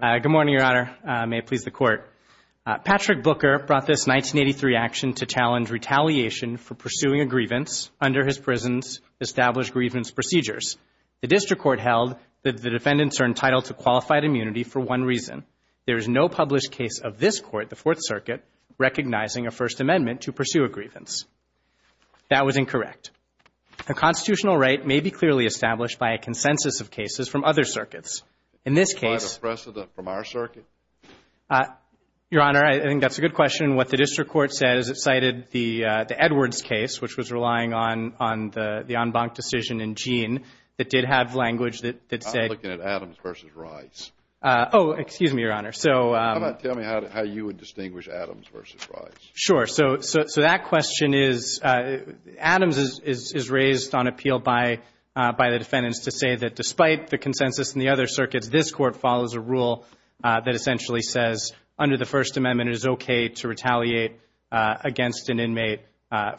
Good morning, Your Honor. May it please the Court. Patrick Booker brought this 1983 action to challenge retaliation for pursuing a grievance under his prison's established grievance procedures. The District Court held that the defendants are entitled to qualified immunity for one reason. There is no published case of this Court, the Fourth Circuit, recognizing a First Amendment to pursue a grievance. That was incorrect. A constitutional right may be clearly established by a consensus of cases from other circuits. In this case, Your Honor, I think that's a good question. What the District Court said is it cited the Edwards case, which was relying on the en banc decision in Jean that did have language that said, Oh, excuse me, Your Honor. So sure. So that question is Adams is raised on appeal by the defendants to say that despite the consensus in the other circuits, this Court follows a rule that essentially says under the First Amendment, it is okay to retaliate against an inmate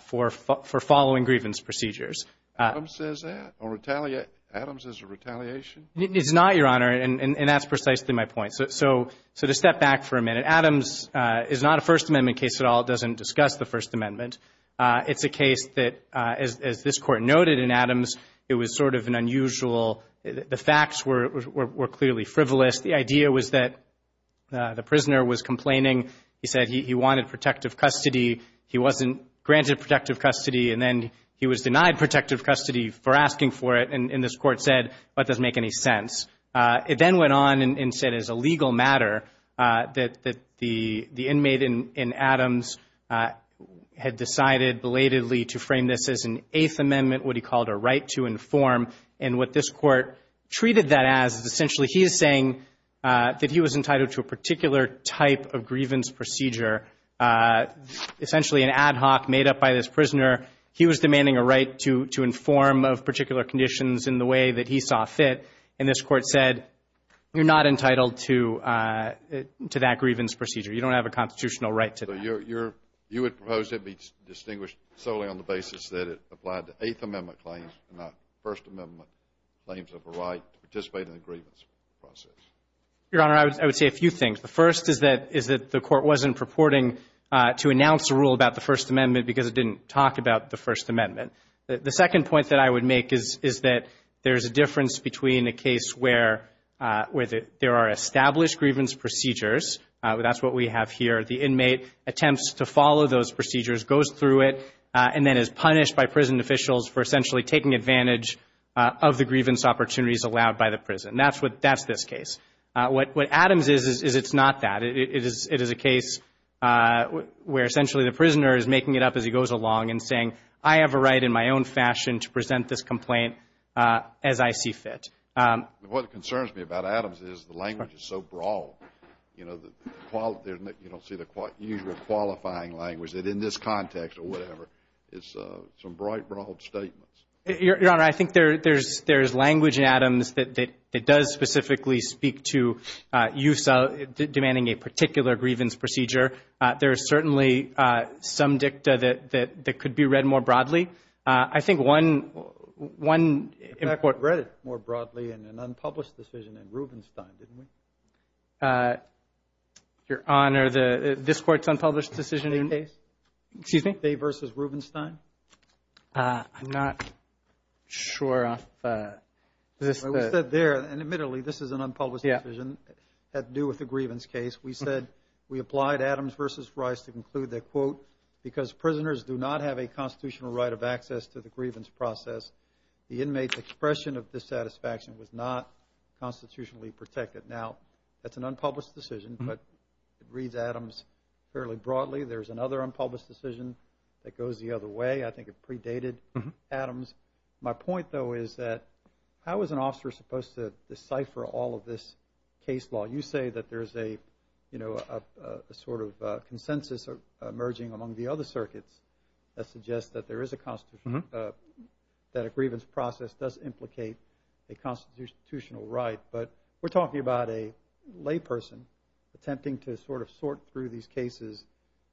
for following grievance procedures. Adams says that? Or retaliate? Adams is a retaliation? It's not, Your Honor, and that's precisely my point. So to step back for a minute, Adams is not a First Amendment case at all. It doesn't discuss the First Amendment. It's a case that, as this Court noted in Adams, it was sort of an unusual, the facts were clearly frivolous. The idea was that the prisoner was complaining. He said he wanted protective custody. He wasn't granted protective custody, and then he was denied protective custody for asking for it, and this Court said, That doesn't make any sense. It then went on and said as a legal matter that the inmate in Adams had decided belatedly to frame this as an Eighth Amendment, what he called a right to inform, and what this Court treated that as is essentially he is saying that he was entitled to a particular type of grievance procedure, essentially an ad hoc made up by this prisoner. He was demanding a right to inform of particular conditions in the way that he saw fit, and this Court said, You're not entitled to that grievance procedure. You don't have a constitutional right to that. So you would propose that it be distinguished solely on the basis that it applied to Eighth Amendment claims and not First Amendment claims of a right to participate in the grievance process? Your Honor, I would say a few things. The first is that the Court wasn't purporting to announce a rule about the First Amendment because it didn't talk about the First Amendment. The second point that I would make is that there is a difference between a case where there are established grievance procedures. That's what we have here. The inmate attempts to follow those procedures, goes through it, and then is punished by prison officials for essentially taking advantage of the grievance opportunities allowed by the prison. That's this case. What Adams is, is it's not that. It is a case where essentially the prisoner is making it up as he goes along and saying, I have a right in my own fashion to present this complaint as I see fit. What concerns me about Adams is the language is so broad. You know, you don't see the usual qualifying language that in this context or whatever is some bright, broad statements. Your Honor, I think there is language in Adams that does specifically speak to demanding a particular grievance procedure. There is certainly some dicta that could be read more broadly. I think one In fact, we read it more broadly in an unpublished decision in Rubenstein, didn't we? Your Honor, this Court's unpublished decision in The case? Excuse me? Day v. Rubenstein? I'm not sure if this It was said there, and admittedly, this is an unpublished decision that had to do with the grievance case. We said, we applied Adams v. Rice to conclude that, quote, because prisoners do not have a constitutional right of access to the grievance process, the inmate's expression of dissatisfaction was not constitutionally protected. Now, that's an unpublished decision, but it reads Adams fairly broadly. There's another unpublished decision that goes the other way. I think it predated Adams. My point, though, is that how is an officer supposed to decipher all of this case law? You say that there's a, you know, a sort of consensus emerging among the other circuits that suggests that there is a, that a grievance process does implicate a constitutional right, but we're talking about a layperson attempting to sort of sort through these cases,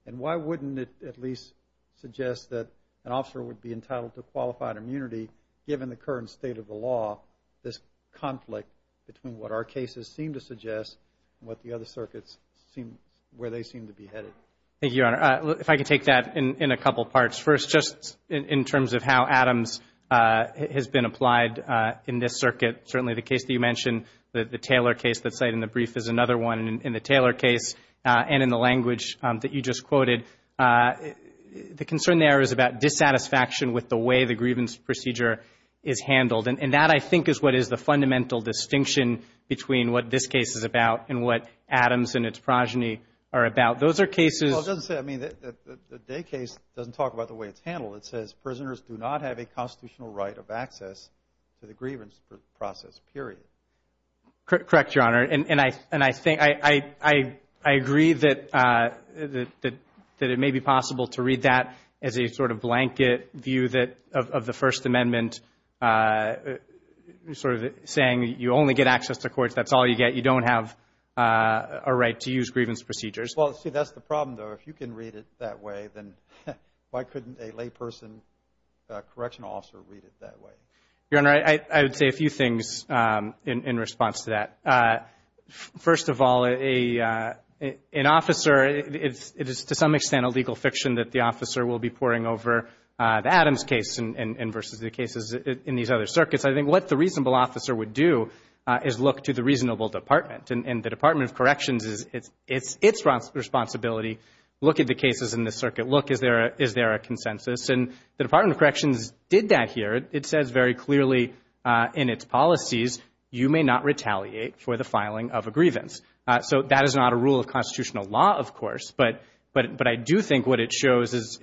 and why wouldn't it at least suggest that an officer would be entitled to qualified immunity given the current state of the law, this conflict between what our cases seem to suggest and what the other circuits seem, where they seem to be headed? Thank you, Your Honor. If I could take that in a couple parts. First, just in terms of how Adams has been applied in this circuit, certainly the case that you mentioned, the Taylor case that's cited in the brief is another one, and in the Taylor case and in the language that you just quoted, the concern there is about dissatisfaction with the way the grievance procedure is handled, and that, I think, is what is the fundamental distinction between what this case is about and what Adams and its progeny are about. Those are cases... Well, it doesn't say, I mean, the Day case doesn't talk about the way it's handled. It says, prisoners do not have a constitutional right of access to the grievance process, period. Correct, Your Honor, and I think, I agree that it may be possible to read that as a sort of blanket view that, of the First Amendment, sort of saying you only get access to courts, that's all you get. You don't have a right to use grievance procedures. Well, see, that's the problem, though. If you can read it that way, then why couldn't a layperson correctional officer read it that way? Your Honor, I would say a few things in response to that. First of all, an officer, it is to some extent a legal fiction that the officer will be poring over the Adams case versus the cases in these other circuits. I think what the reasonable officer would do is look to the reasonable department, and the Department of Corrections, it's its responsibility, look at the cases in the circuit, look, is there a consensus? And the Department of Corrections did that here. It says very clearly in its policies, you may not retaliate for the filing of a grievance. So that is not a rule of constitutional law, of course, but I do think what it shows is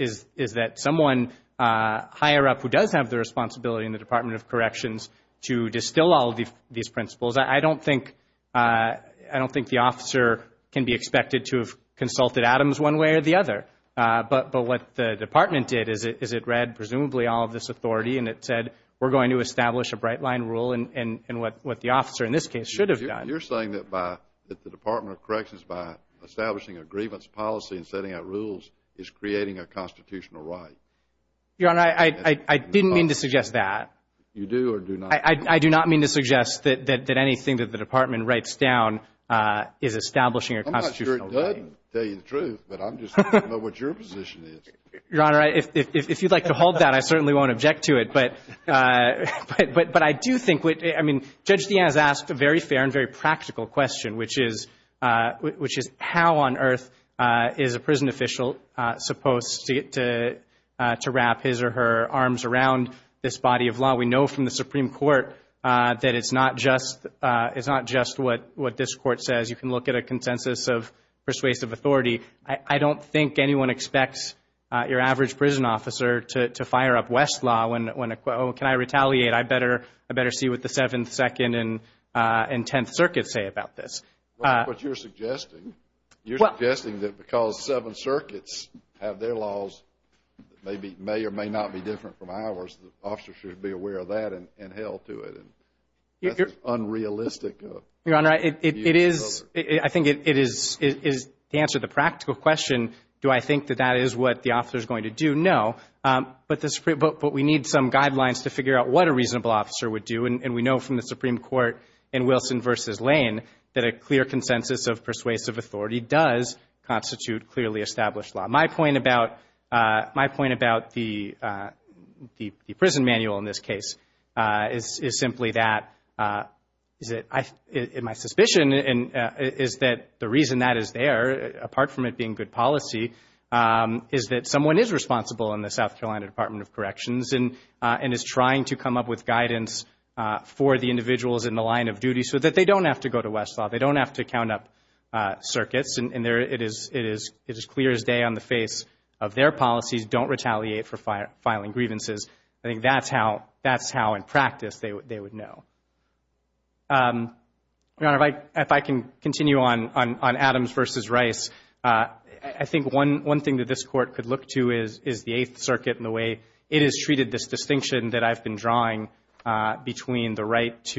that someone higher up who does have the responsibility in the Department of Corrections to distill all of these principles, I don't think the officer can be expected to have consulted Adams one way or the other. But what the department did is it read presumably all of this authority, and it said, we're going to establish a bright line rule, and what the officer in this case should have done. You're saying that the Department of Corrections, by establishing a grievance policy and setting out rules, is creating a constitutional right? Your Honor, I didn't mean to suggest that. You do or do not? I do not mean to suggest that anything that the department writes down is establishing a constitutional right. I'm not sure it does tell you the truth, but I'm just trying to know what your position is. Your Honor, if you'd like to hold that, I certainly won't object to it. But I do think what, I mean, Judge DeAnne has asked a very fair and very practical question, which is how on earth is a prison official supposed to wrap his or her arms around this body of law. We know from the Supreme Court that it's not just what this Court says. You can look at a consensus of persuasive authority. I don't think anyone expects your average prison officer to fire up Westlaw when, oh, can I retaliate? I better see what the Seventh, Second, and Tenth Circuits say about this. Well, what you're suggesting, you're suggesting that because the Seventh Circuits have their laws that may or may not be different from ours, the officer should be aware of that and held to it. That's unrealistic. Your Honor, it is, I think it is, to answer the practical question, do I think that that is what the officer is going to do? No. But we need some guidelines to figure out what a reasonable officer would do. And we know from the Supreme Court in Wilson v. Lane that a clear consensus of persuasive authority does constitute clearly established law. My point about the prison manual in this case is simply that my suspicion is that the reason that is there, apart from it being good policy, is that someone is responsible in the South Carolina Department of Corrections and is trying to come up with guidance for the individuals in the line of duty so that they don't have to go to Westlaw, they don't have to count up circuits. And it is clear as day on the face of their policies, don't retaliate for filing grievances. I think that's how in practice they would know. Your Honor, if I can continue on Adams v. Rice, I think one thing that this Court could look to is the Eighth Circuit and the way it has treated this distinction that I've been drawing between the right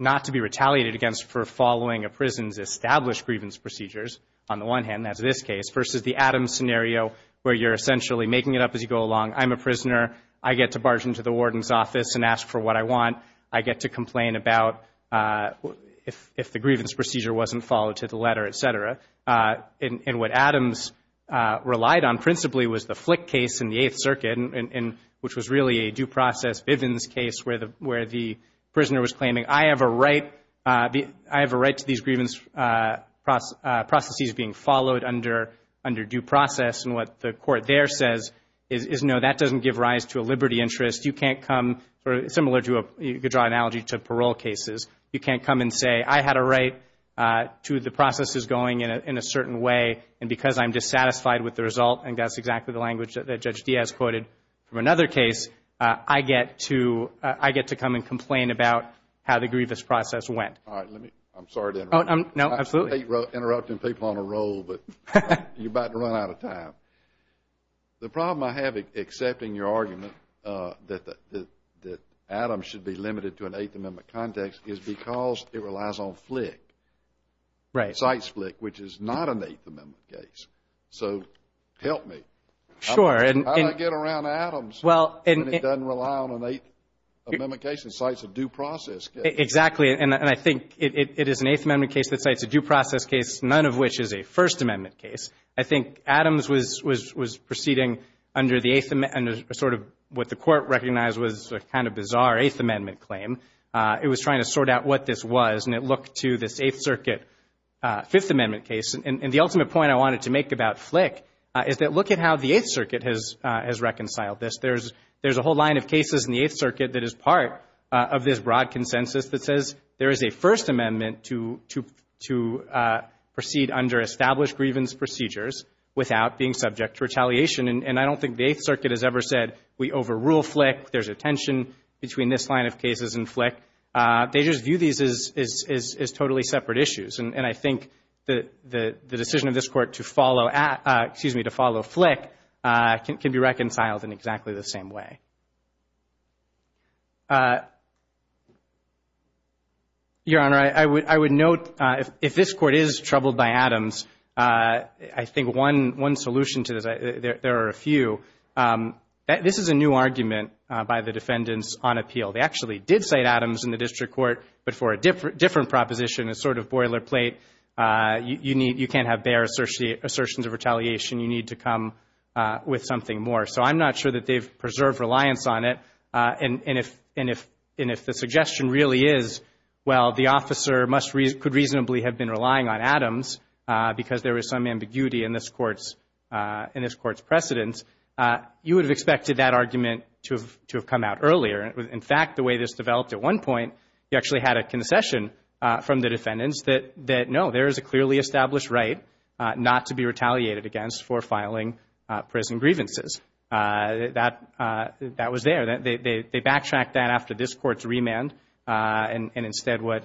not to be retaliated against for following a prison's established grievance procedures, on the one hand, as in this case, versus the Adams scenario where you're essentially making it up as you go along. I'm a prisoner. I get to barge into the warden's office and ask for what I want. I get to complain about if the grievance procedure wasn't followed to the letter, et cetera. And what Adams relied on principally was the due process Bivens case where the prisoner was claiming, I have a right to these grievance processes being followed under due process. And what the Court there says is, no, that doesn't give rise to a liberty interest. You can't come, similar to, you could draw an analogy to parole cases. You can't come and say, I had a right to the processes going in a certain way. And because I'm dissatisfied with the result, and that's exactly the language that Judge Diaz quoted from another case, I get to come and complain about how the grievance process went. All right. Let me, I'm sorry to interrupt. No, absolutely. Interrupting people on a roll, but you're about to run out of time. The problem I have accepting your argument that Adams should be limited to an Eighth Amendment context is because it relies on FLIC, CITES FLIC, which is not an Eighth Amendment case. So help me. Sure. How do I get around Adams when it doesn't rely on an Eighth Amendment case and CITES a due process case? Exactly. And I think it is an Eighth Amendment case that CITES a due process case, none of which is a First Amendment case. I think Adams was proceeding under the Eighth, sort of what the Court recognized was a kind of bizarre Eighth Amendment claim. It was trying to sort out what this was, and it looked to this Eighth Circuit Fifth Amendment case. And the ultimate point I has reconciled this. There's a whole line of cases in the Eighth Circuit that is part of this broad consensus that says there is a First Amendment to proceed under established grievance procedures without being subject to retaliation. And I don't think the Eighth Circuit has ever said we overrule FLIC. There's a tension between this line of cases and FLIC. They just view these as totally separate issues. And I think the decision of this Court to follow FLIC can be reconciled in exactly the same way. Your Honor, I would note if this Court is troubled by Adams, I think one solution to this, there are a few. This is a new argument by the defendants on appeal. They actually did cite Adams in the District Court, but for a different proposition, a sort of boilerplate, you can't have bare assertions of retaliation. You need to come with something more. So I'm not sure that they've preserved reliance on it. And if the suggestion really is, well, the officer could reasonably have been relying on Adams because there was some ambiguity in this Court's precedence, you would have expected that argument to have come out earlier. In fact, the way this developed at one point, you actually had a concession from the defendants that, no, there is a clearly established right not to be retaliated against for filing prison grievances. That was there. They backtracked that after this Court's remand. And instead what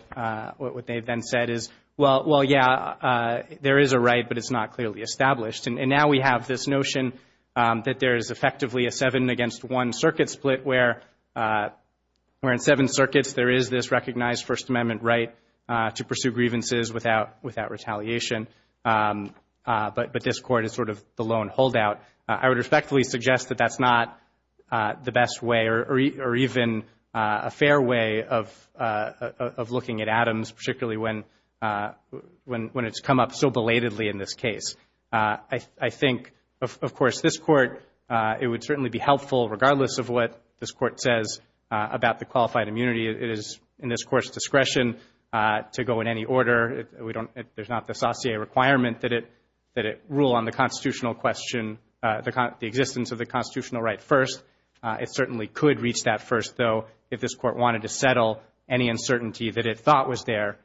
they then said is, well, yeah, there is a right, but it's not clearly established. And now we have this notion that there is effectively a seven against one circuit split where in seven circuits there is this recognized First Amendment right to pursue grievances without retaliation. But this Court is sort of the lone holdout. I would respectfully suggest that that's not the best way or even a fair way of looking at Adams, particularly when it's come up so belatedly in this case. I think, of course, this Court, it would certainly be helpful, regardless of what this Court says about the qualified immunity, it is in this Court's discretion to go in any order. There's not the satie requirement that it rule on the constitutional question, the existence of the constitutional right first. It certainly could reach that first, though, if this Court wanted to settle any uncertainty that it thought was there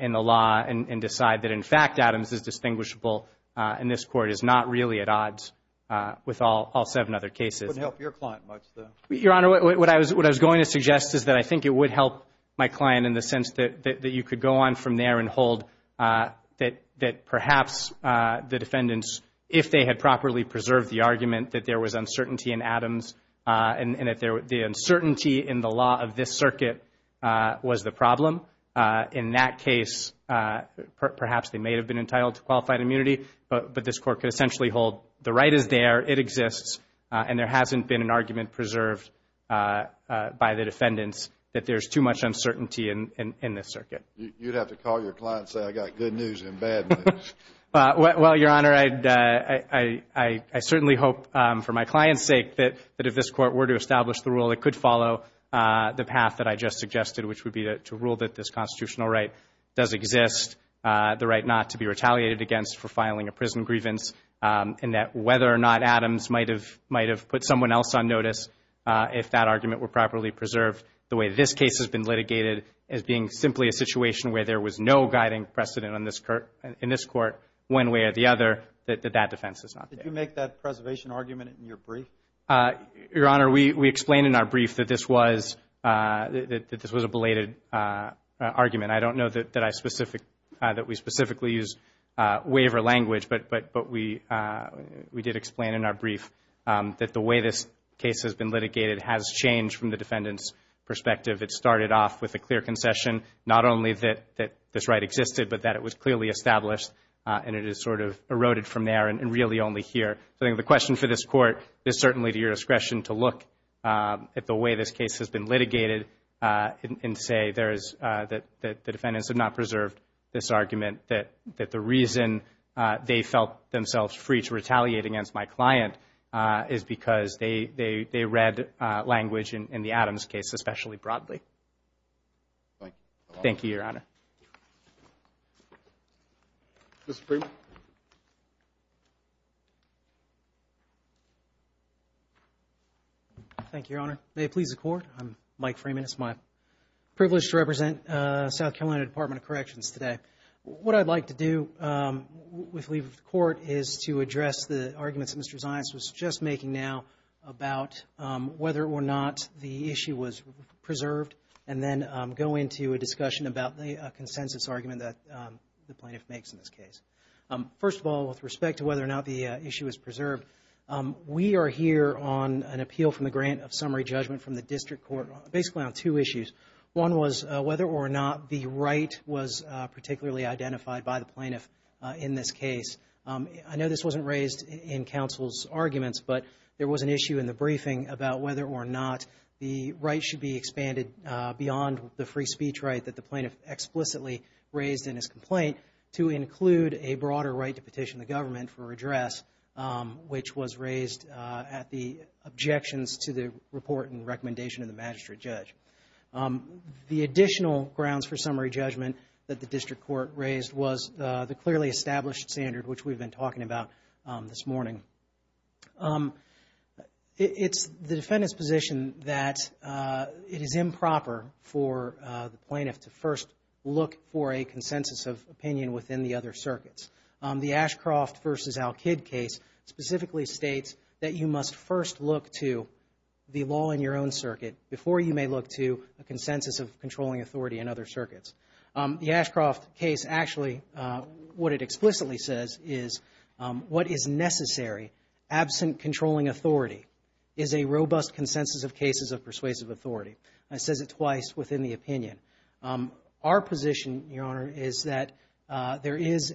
in the law and decide that, in fact, Adams is distinguishable and this Court is not really at odds with all seven other cases. It wouldn't help your client much, though. Your Honor, what I was going to suggest is that I think it would help my client in the sense that you could go on from there and hold that perhaps the defendants, if they had properly preserved the argument that there was uncertainty in Adams and that the uncertainty in the law of this circuit was the problem. In that case, perhaps they may have been entitled to qualified immunity, but this Court could essentially hold the right is there, it exists, and there hasn't been an argument preserved by the defendants that there's too much uncertainty in this circuit. You'd have to call your client and say, I've got good news and bad news. Well, Your Honor, I certainly hope, for my client's sake, that if this Court were to to rule that this constitutional right does exist, the right not to be retaliated against for filing a prison grievance, and that whether or not Adams might have put someone else on notice if that argument were properly preserved, the way this case has been litigated as being simply a situation where there was no guiding precedent in this Court, one way or the other, that that defense is not there. Did you make that preservation argument in your brief? Your Honor, we explained in our brief that this was a belated argument. I don't know that we specifically used waiver language, but we did explain in our brief that the way this case has been litigated has changed from the defendant's perspective. It started off with a clear concession, not only that this right existed, but that it was clearly established, and it has sort of eroded from there and really only here. The question for this Court is certainly to your discretion to look at the way this case has been litigated and say that the defendants have not preserved this argument, that the reason they felt themselves free to retaliate against my client is because they read language in the Adams case especially broadly. Thank you, Your Honor. Mr. Freeman? Thank you, Your Honor. May it please the Court? I'm Mike Freeman. It's my privilege to represent South Carolina Department of Corrections today. What I'd like to do with the leave of the Court is to address the arguments that Mr. Zions was just making now about whether or not the issue was preserved and then go into a discussion about consensus argument that the plaintiff makes in this case. First of all, with respect to whether or not the issue is preserved, we are here on an appeal from the grant of summary judgment from the District Court basically on two issues. One was whether or not the right was particularly identified by the plaintiff in this case. I know this wasn't raised in counsel's arguments, but there was an issue in the briefing about whether or not the right should be expanded beyond the raised in his complaint to include a broader right to petition the government for address, which was raised at the objections to the report and recommendation of the magistrate judge. The additional grounds for summary judgment that the District Court raised was the clearly established standard, which we've been talking about this morning. It's the defendant's position that it is improper for the plaintiff to first look for a consensus of opinion within the other circuits. The Ashcroft v. Al-Kid case specifically states that you must first look to the law in your own circuit before you may look to a consensus of controlling authority in other circuits. The Ashcroft case actually, what it explicitly says is what is necessary absent controlling authority is a robust consensus of cases of persuasive authority. It says it twice within the opinion. Our position, Your Honor, is that there is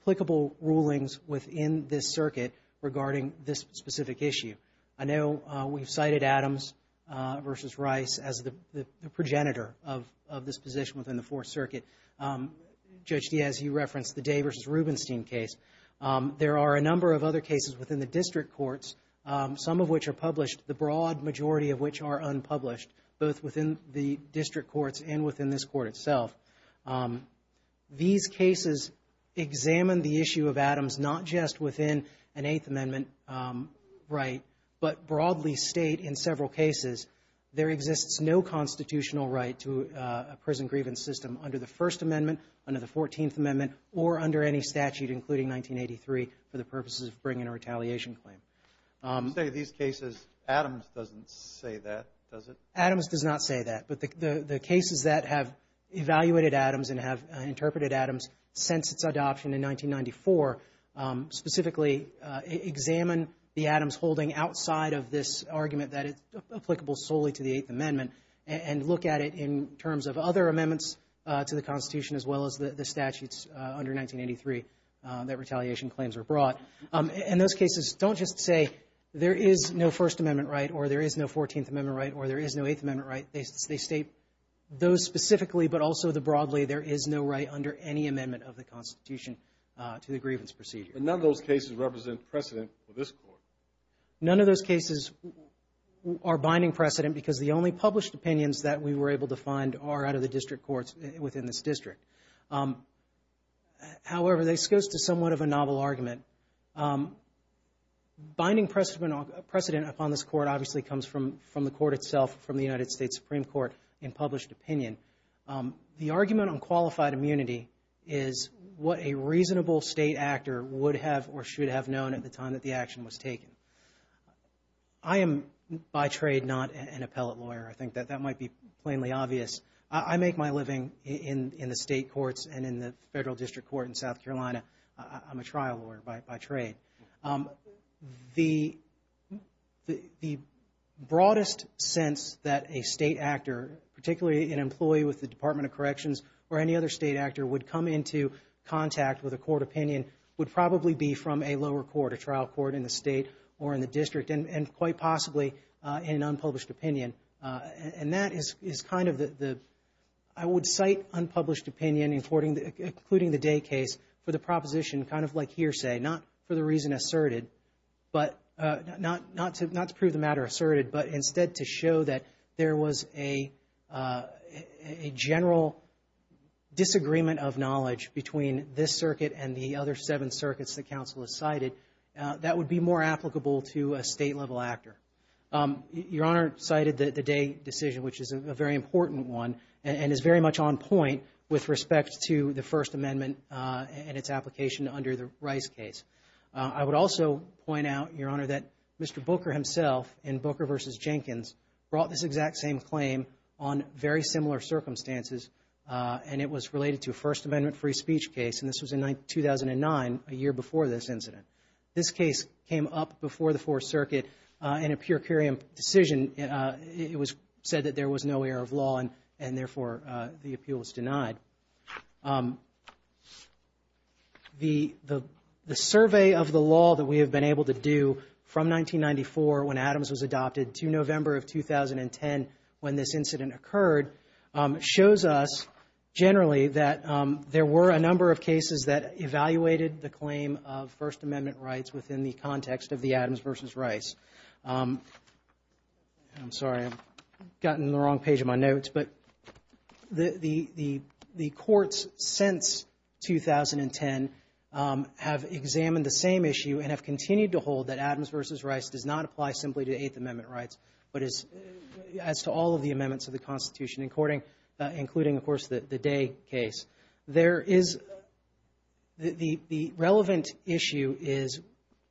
applicable rulings within this circuit regarding this specific issue. I know we've cited Adams v. Rice as the progenitor of this position within the Fourth Circuit. Judge Diaz, you referenced the Day v. Rubenstein case. There are a number of other cases within the District Courts, some of which are published, the broad majority of which are unpublished, both within the District Courts and within this Court itself. These cases examine the issue of Adams not just within an Eighth Amendment right, but broadly state in several cases there exists no constitutional right to a prison grievance system under the First Amendment or under any statute, including 1983, for the purposes of bringing a retaliation claim. You say these cases, Adams doesn't say that, does it? Adams does not say that, but the cases that have evaluated Adams and have interpreted Adams since its adoption in 1994 specifically examine the Adams holding outside of this argument that it's applicable solely to the Eighth Amendment and look at it in terms of other amendments to the Constitution as well as the statutes under 1983 that retaliation claims are brought. And those cases don't just say there is no First Amendment right or there is no Fourteenth Amendment right or there is no Eighth Amendment right. They state those specifically, but also the broadly there is no right under any amendment of the Constitution to the grievance procedure. But none of those cases represent precedent for this Court. None of those cases are binding precedent because the only published opinions that we were able to within this district. However, this goes to somewhat of a novel argument. Binding precedent upon this Court obviously comes from the Court itself, from the United States Supreme Court in published opinion. The argument on qualified immunity is what a reasonable state actor would have or should have known at the time that the action was taken. I am, by trade, not an appellate lawyer. I think that that might be plainly obvious. I make my living in the state courts and in the federal district court in South Carolina. I'm a trial lawyer by trade. The broadest sense that a state actor, particularly an employee with the Department of Corrections or any other state actor would come into contact with a court opinion would probably be from a trial court in the state or in the district and quite possibly in an unpublished opinion. I would cite unpublished opinion, including the Day case, for the proposition kind of like hearsay, not for the reason asserted, not to prove the matter asserted, but instead to show that there was a general disagreement of knowledge between this circuit and the other seven circuits that would be more applicable to a state-level actor. Your Honor cited the Day decision, which is a very important one and is very much on point with respect to the First Amendment and its application under the Rice case. I would also point out, Your Honor, that Mr. Booker himself in Booker v. Jenkins brought this exact same claim on very similar circumstances, and it was related to a First Amendment case. This case came up before the Fourth Circuit in a purcurium decision. It was said that there was no error of law and therefore the appeal was denied. The survey of the law that we have been able to do from 1994 when Adams was adopted to November of 2010 when this incident occurred shows us generally that there were a number of cases that within the context of the Adams v. Rice. I'm sorry, I've gotten the wrong page of my notes, but the courts since 2010 have examined the same issue and have continued to hold that Adams v. Rice does not apply simply to Eighth Amendment rights, but as to all of the amendments of the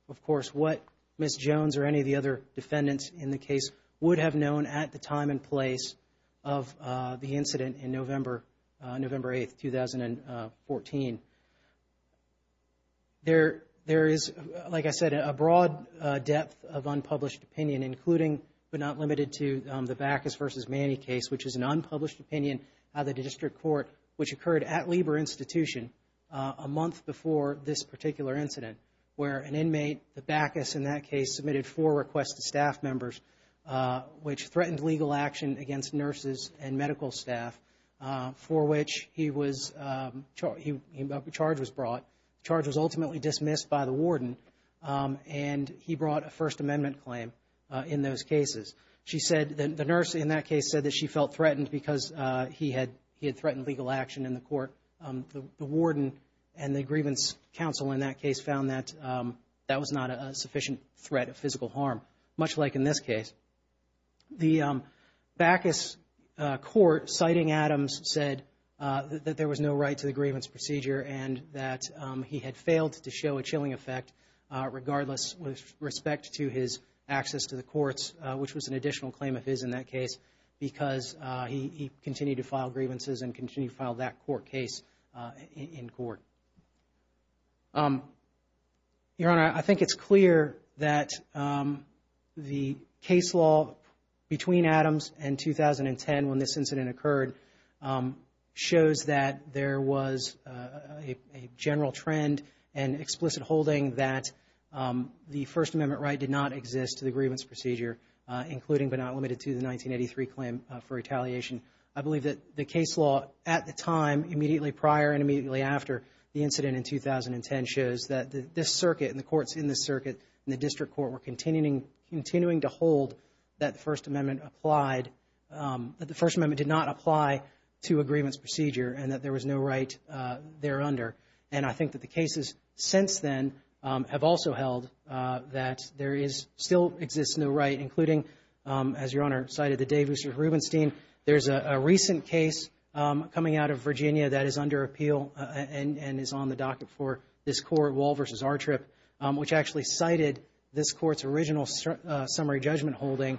of course, what Ms. Jones or any of the other defendants in the case would have known at the time and place of the incident in November 8, 2014. There is, like I said, a broad depth of unpublished opinion, including but not limited to the Backus v. Manny case, which is an unpublished opinion of the District Court, which occurred at Lieber Institution a month before this particular incident, where an inmate, the Backus in that case, submitted four requests to staff members, which threatened legal action against nurses and medical staff, for which he was, charge was brought, charge was ultimately dismissed by the warden and he brought a First Amendment claim in those cases. She said that the nurse in that case said that she felt threatened because he had threatened legal action in the court. The warden and the grievance counsel in that case found that that was not a sufficient threat of physical harm, much like in this case. The Backus court, citing Adams, said that there was no right to the grievance procedure and that he had failed to show a chilling effect regardless with respect to his access to the courts, which was an additional claim of his in that case, because he continued to file grievances and continued to file that court case in court. Your Honor, I think it's clear that the case law between Adams and 2010, when this incident occurred, shows that there was a general trend and explicit holding that the First Amendment right did not exist to the grievance procedure, including but not limited to the 1983 claim for retaliation. I believe that the case law at the time, immediately prior and immediately after the incident in 2010, shows that this circuit and the courts in the circuit and the district court were continuing to hold that the First Amendment applied, that the First Amendment did not apply to a grievance procedure and that there was no right there under. And I think that the cases since then have also held that there is still exists no right, including, as Your Honor cited the day Mr. Rubenstein, there's a recent case coming out of Virginia that is under appeal and is on the docket for this court, Wall v. R. Tripp, which actually cited this court's original summary judgment holding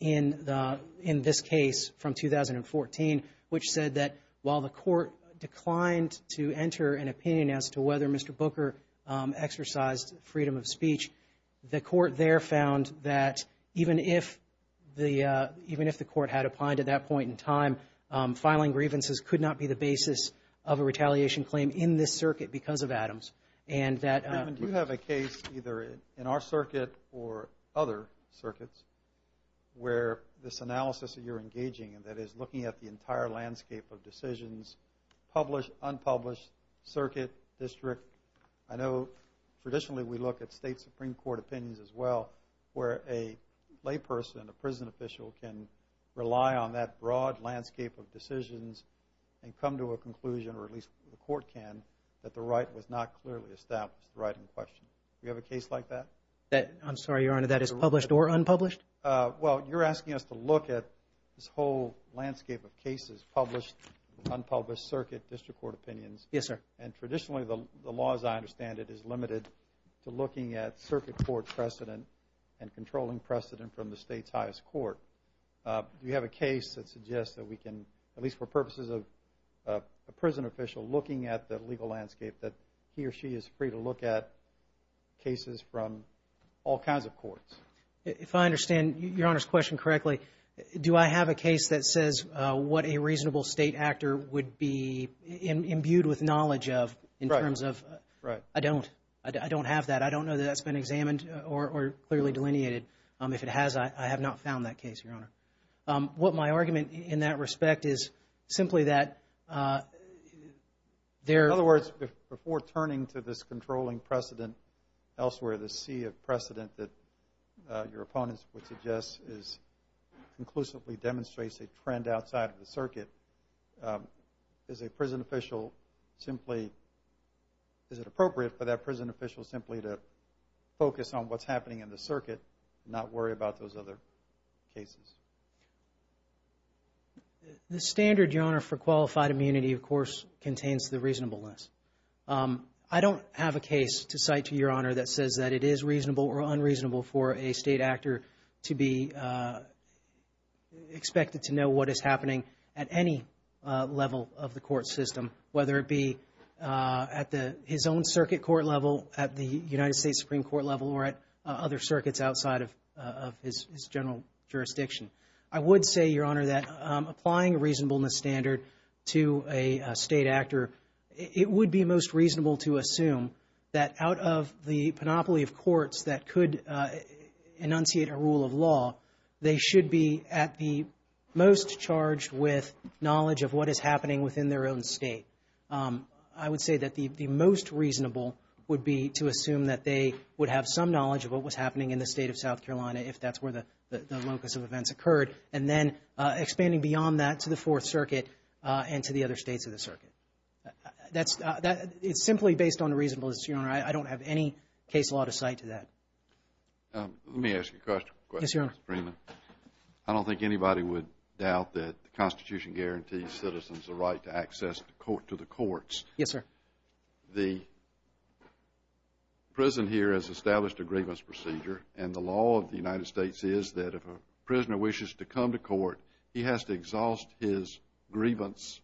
in this case from 2014, which said that while the court declined to enter an opinion as to whether Mr. Booker exercised freedom of speech, the court there found that even if the court had applied at that point in time, filing grievances could not be the basis of a retaliation claim in this circuit because of Adams. And that... Do you have a case, either in our circuit or other circuits, where this analysis that you're engaging in, that is looking at the entire landscape of decisions, published, unpublished, circuit, district, I know traditionally we look at state Supreme Court opinions as well, where a layperson, a prison official, can rely on that broad landscape of decisions and come to a conclusion, or at least the court can, that the right was not clearly established, the right in question. Do you have a case like that? That, I'm sorry, Your Honor, that is published or unpublished? Well, you're asking us to look at this whole landscape of cases, published, unpublished, circuit, district court opinions. Yes, sir. And traditionally the law, as I understand it, is limited to looking at circuit court precedent and controlling precedent from the state's highest court. Do you have a case that suggests that we can, at least for purposes of a prison official, looking at the legal landscape that he or she If I understand Your Honor's question correctly, do I have a case that says what a reasonable state actor would be imbued with knowledge of in terms of, I don't. I don't have that. I don't know that that's been examined or clearly delineated. If it has, I have not found that case, Your Honor. What my argument in that respect is simply that there, In other words, before turning to this controlling precedent elsewhere, this sea of precedent that your opponents would suggest is conclusively demonstrates a trend outside of the circuit, is a prison official simply, is it appropriate for that prison official simply to focus on what's happening in the circuit not worry about those other cases? The standard, Your Honor, for qualified immunity, of course, contains the reasonableness. I don't have a case to cite to Your Honor that says that it is reasonable or unreasonable for a state actor to be expected to know what is happening at any level of the court system, whether it be at his own circuit court level, at the United States Supreme Court level, or at other circuits outside of his general jurisdiction. I would say, Your Honor, that applying reasonableness standard to a state actor, it would be most reasonable to assume that out of the panoply of courts that could enunciate a rule of law, they should be at the most charged with knowledge of what is happening within their own state. I would say that the most reasonable would be to assume that they would have some knowledge of what was happening in the locus of events occurred, and then expanding beyond that to the Fourth Circuit and to the other states of the circuit. That's, it's simply based on reasonableness, Your Honor. I don't have any case law to cite to that. Let me ask you a question. Yes, Your Honor. I don't think anybody would doubt that the Constitution guarantees citizens the right to access to the courts. Yes, sir. The prison here has established a grievance procedure and the law of the United States. If a prisoner wishes to come to court, he has to exhaust his grievance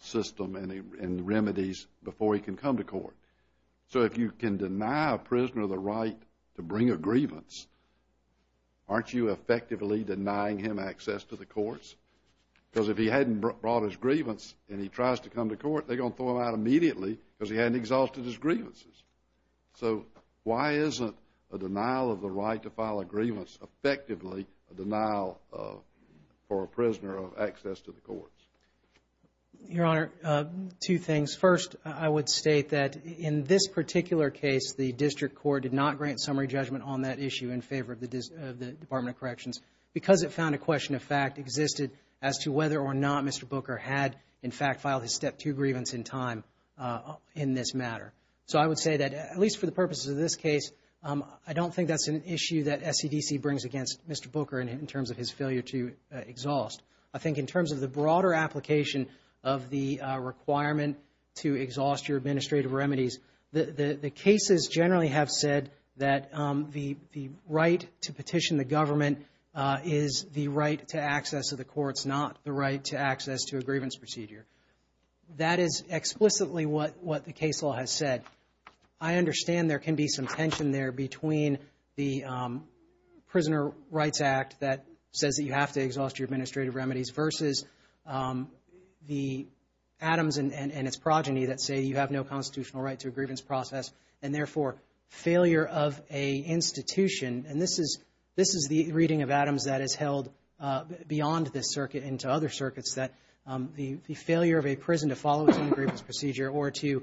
system and remedies before he can come to court. So if you can deny a prisoner the right to bring a grievance, aren't you effectively denying him access to the courts? Because if he hadn't brought his grievance and he tries to come to court, they're going to throw him out immediately because he isn't a denial of the right to file a grievance, effectively a denial for a prisoner of access to the courts. Your Honor, two things. First, I would state that in this particular case, the district court did not grant summary judgment on that issue in favor of the Department of Corrections because it found a question of fact existed as to whether or not Mr. Booker had, in fact, filed his Step 2 grievance in time in this matter. So I would say that, at least for purposes of this case, I don't think that's an issue that SCDC brings against Mr. Booker in terms of his failure to exhaust. I think in terms of the broader application of the requirement to exhaust your administrative remedies, the cases generally have said that the right to petition the government is the right to access to the courts, not the right to access to a grievance procedure. That is explicitly what the case law has said. I understand there can be some tension there between the Prisoner Rights Act that says that you have to exhaust your administrative remedies versus the Adams and its progeny that say you have no constitutional right to a grievance process and, therefore, failure of a institution. And this is the reading of Adams that is held beyond this circuit and to other circuits that the failure of a prison to follow a grievance procedure or to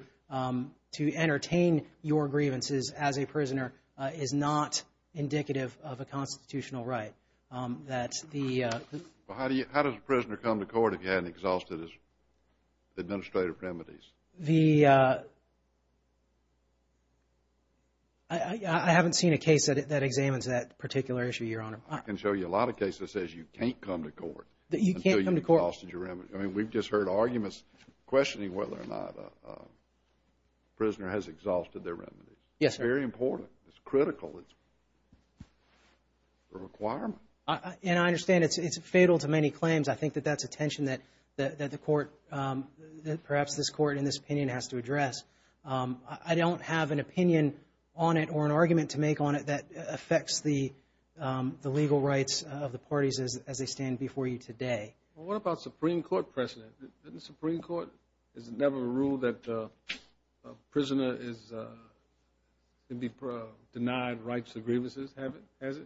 entertain your grievances as a prisoner is not indicative of a constitutional right. How does a prisoner come to court if he hasn't exhausted his administrative remedies? I haven't seen a case that examines that particular issue, Your Honor. I can show you a lot of cases that says you can't come to court until you've exhausted your remedies. I mean, we've just heard arguments questioning whether or not a prisoner has exhausted their remedies. Yes, sir. It's very important. It's critical. It's a requirement. And I understand it's fatal to many claims. I think that that's a tension that the court, perhaps this court in this opinion, has to address. I don't have an opinion on it or an opinion on the legal rights of the parties as they stand before you today. Well, what about Supreme Court precedent? Didn't the Supreme Court, is it never a rule that a prisoner can be denied rights to grievances? Has it?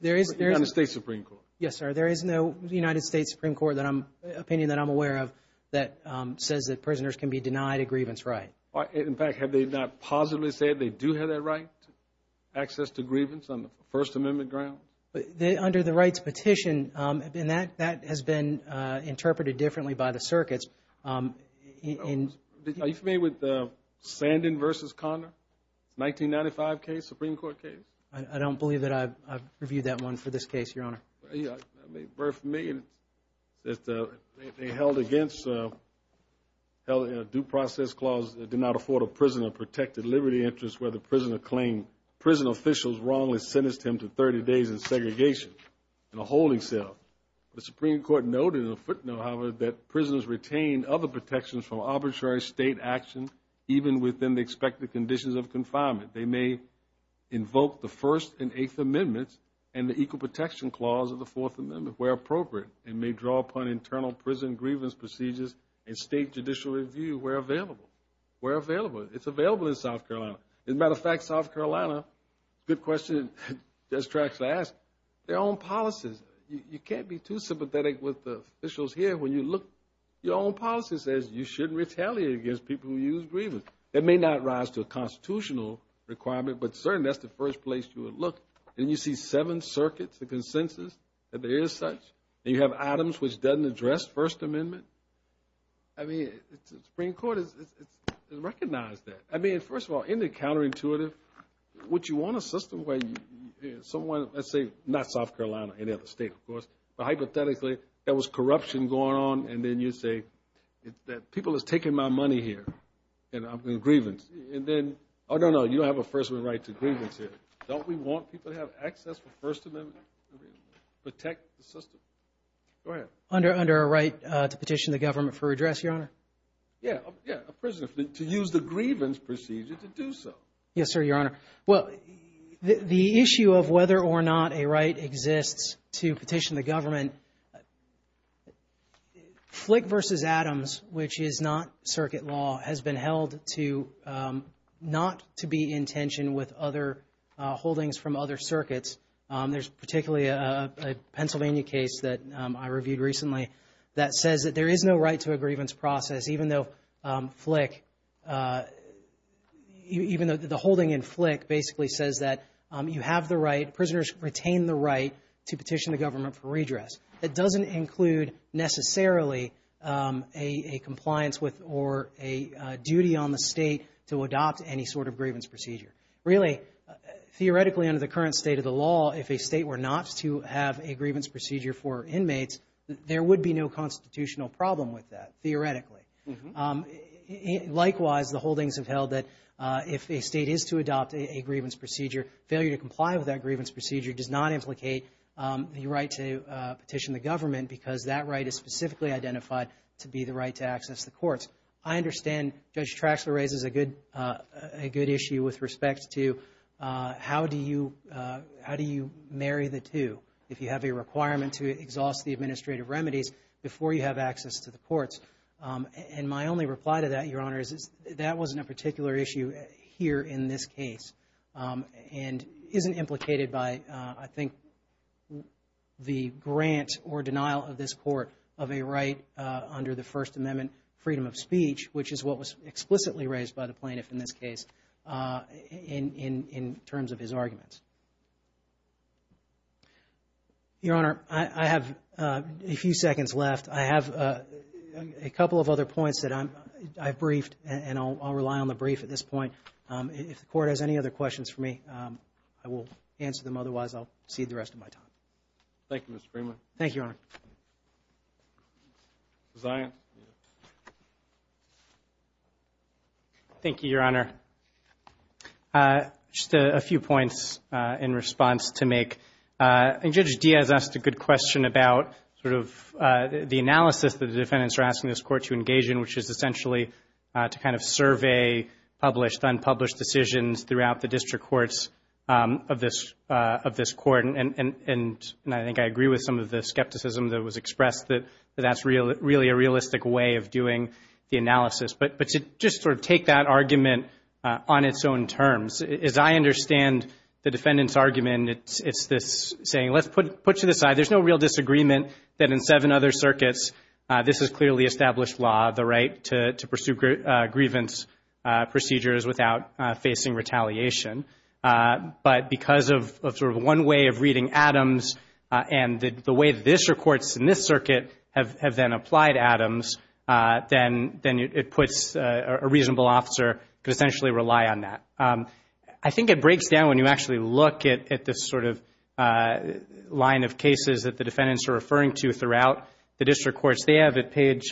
There is. The United States Supreme Court. Yes, sir. There is no United States Supreme Court opinion that I'm aware of that says that prisoners can be denied a grievance right. In fact, have they not positively said they do have that right to grievance on the First Amendment ground? Under the rights petition, and that has been interpreted differently by the circuits. Are you familiar with the Sandin v. Conner, 1995 case, Supreme Court case? I don't believe that I've reviewed that one for this case, Your Honor. Yeah, very familiar. They held against a due process clause that did not afford a prisoner protected liberty interest where the prisoner claimed prison officials wrongly sentenced him to 30 days in segregation in a holding cell. The Supreme Court noted in a footnote, however, that prisoners retain other protections from arbitrary state action, even within the expected conditions of confinement. They may invoke the First and Eighth Amendments and the Equal Protection Clause of the Fourth Amendment where appropriate, and may draw upon internal prison grievance procedures and state judicial review where available. Where available? It's available in South Carolina. As a matter of fact, South Carolina, good question, just tried to ask. Their own policies. You can't be too sympathetic with the officials here when you look. Your own policy says you shouldn't retaliate against people who use grievance. That may not rise to a constitutional requirement, but certainly that's the first place you would look. And you see seven circuits, the consensus that there is such, and you have items which doesn't address First Amendment. I mean, Supreme Court has recognized that. I mean, first of all, isn't it counterintuitive? Would you want a system where someone, let's say, not South Carolina, any other state, of course, but hypothetically, there was corruption going on, and then you say that people is taking my money here, and I'm in grievance. And then, oh, no, no, you don't have a First Amendment right to grievance here. Don't we want people to have access for First Amendment? Protect the system? Go ahead. Under a right to petition the government for redress, Your Honor? Yeah, yeah, a prisoner to use the grievance procedure to do so. Yes, sir, Your Honor. Well, the issue of whether or not a right exists to petition the government, Flick v. Adams, which is not circuit law, has been held to not to be in tension with other holdings from other circuits. There's particularly a Pennsylvania case that I reviewed recently that says that there is no right to a grievance process even though Flick, even though the holding in Flick basically says that you have the right, prisoners retain the right to petition the government for redress. It doesn't include necessarily a compliance with or a duty on the state to adopt any sort of grievance procedure. Really, theoretically, under the current state of the law, if a state were not to have a grievance procedure for inmates, there would be no constitutional problem with that, theoretically. Likewise, the holdings have held that if a state is to adopt a grievance procedure, failure to comply with that grievance procedure does not implicate the right to petition the government because that right is specifically identified to be the right to access the courts. I understand Judge Traxler raises a good, a good issue with respect to how do you, how do you marry the two if you have a requirement to exhaust the administrative remedies before you have access to the courts? And my only reply to that, Your Honor, is that wasn't a particular issue here in this case and isn't implicated by, I think, the grant or denial of this court of a right under the First Amendment, freedom of speech, which is what was explicitly raised by the plaintiff in this case in terms of his arguments. Your Honor, I have a few seconds left. I have a couple of other points that I've briefed and I'll rely on the brief at this point. If the court has any other questions for me, I will answer them. Otherwise, I'll cede the rest of my time. Thank you, Mr. Freeman. Thank you, Your Honor. Thank you, Your Honor. Just a few points in response to make. And Judge Diaz asked a good question about sort of the analysis that the defendants are asking this court to engage in, which is essentially to kind of survey published, unpublished decisions throughout the district courts of this court. And I think I agree with some of the skepticism that was expressed that that's really a realistic way of doing the analysis. But to just sort of take that argument on its own terms, as I understand the defendant's argument, it's this saying, let's put to the side, there's no real disagreement that in seven other circuits, this is clearly established law, the right to pursue grievance procedures without facing retaliation. But because of sort of one way of reading Adams and the way the district courts in this circuit have then applied Adams, then it puts a reasonable officer could essentially rely on that. I think it breaks down when you actually look at this sort of line of cases that the defendants are referring to throughout the district courts. They have at page,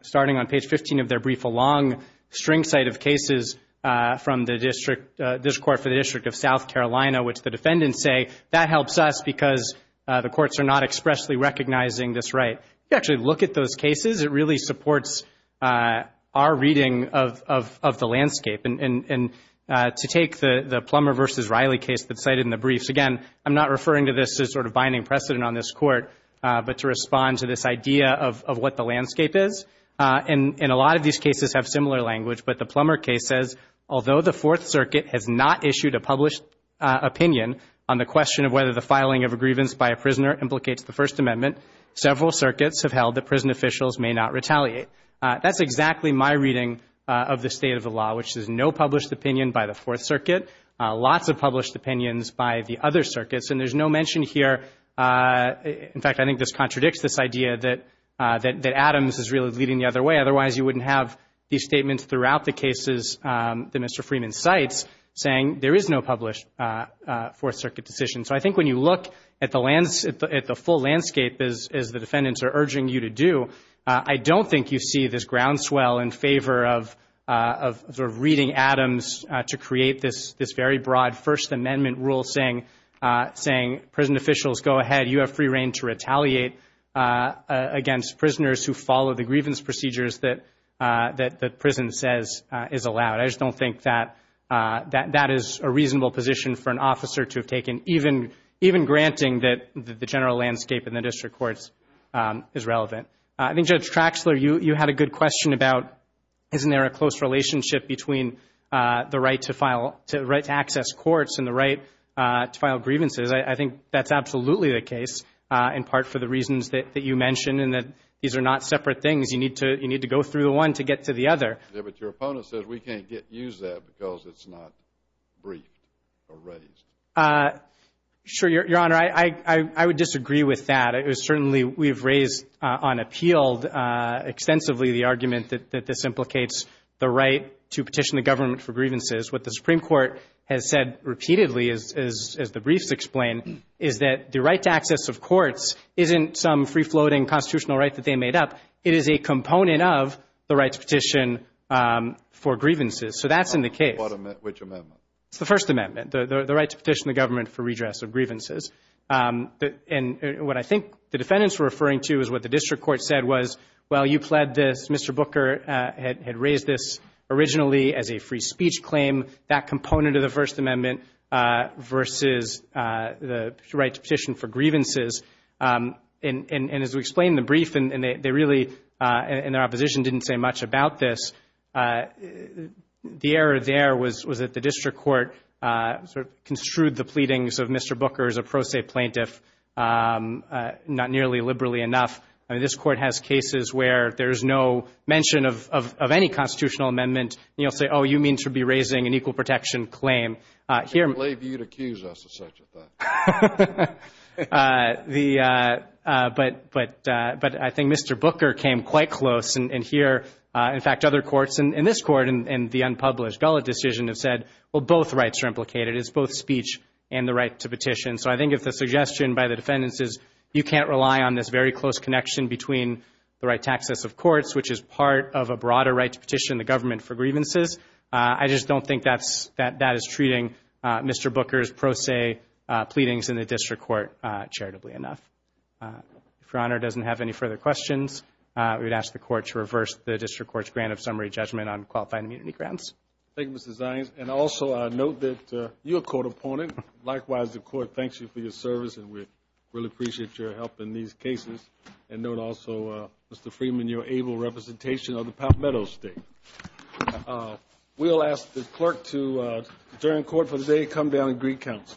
starting on page 15 of their brief, a long string site of cases from the district court for the district of South Carolina, which the defendants say that helps us because the courts are not expressly recognizing this right. If you actually look at those cases, it really supports our reading of the landscape. And to take the Plummer versus Riley case that's cited in the briefs, again, I'm not referring to this as sort of binding precedent on this court, but to respond to this idea of what the landscape is. And a lot of these cases have similar language, but the Plummer case says, although the Fourth Circuit has not issued a published opinion on the question of whether the filing of a grievance by a prisoner implicates the First Amendment, several circuits have held that prison officials may not retaliate. That's exactly my reading of the state of the law, which is no published opinion by the Fourth Circuit, lots of published opinions by the other circuits. And there's no mention here, in fact, I think this contradicts this idea that Adams is really leading the other way. Otherwise, you wouldn't have these statements throughout the cases that Mr. Freeman cites saying there is no published Fourth Circuit decision. So I think when you look at the full landscape, as the defendants are urging you to do, I don't think you see this groundswell in favor of reading Adams to create this very broad First Amendment rule saying, prison officials, go ahead, you have free reign to retaliate against prisoners who follow the grievance procedures that prison says is allowed. I just don't think that is a reasonable position for an officer to have taken, even granting that the general landscape in the district courts is relevant. I think, Judge Traxler, you had a good question about, isn't there a close relationship between the right to access courts and the right to file grievances? I think that's absolutely the case, in part for the reasons that you mentioned, and that these are not separate things. You need to go through the one to get to the other. Yeah, but your opponent says we can't use that because it's not briefed or raised. Sure, Your Honor. I would disagree with that. Certainly, we've raised on appeal extensively the argument that this implicates the right to petition the government for grievances. What the Supreme Court has said repeatedly, as the briefs explain, is that the right to access of courts isn't some free-floating constitutional right that they made up. It is a component of the right to petition for grievances. That's in the case. Which amendment? It's the First Amendment, the right to petition the government for redress of grievances. What I think the defendants were referring to is what the district court said was, well, you pled this. Mr. Booker had raised this originally as a free amendment versus the right to petition for grievances. As we explained in the brief, and their opposition didn't say much about this, the error there was that the district court construed the pleadings of Mr. Booker as a pro se plaintiff, not nearly liberally enough. This court has cases where there's no mention of any constitutional amendment. You'll say, oh, you mean to be raising an equal protection claim. I can't believe you'd accuse us of such a thing. But I think Mr. Booker came quite close. In fact, other courts, in this court and the unpublished gullet decision, have said, well, both rights are implicated. It's both speech and the right to petition. So I think if the suggestion by the defendants is you can't rely on this very close connection between the right to access of courts, which is part of a broader right to petition the government for grievances, I just don't think that is treating Mr. Booker's pro se pleadings in the district court charitably enough. If Your Honor doesn't have any further questions, we would ask the court to reverse the district court's grant of summary judgment on qualifying immunity grounds. Thank you, Mr. Zions. And also, note that you're a court opponent. Likewise, the court thanks you for your service, and we really appreciate your help in these cases. And note also, Mr. Freeman, your able representation of the Palmetto State. We'll ask the clerk to, during court for today, come down and greet counsel.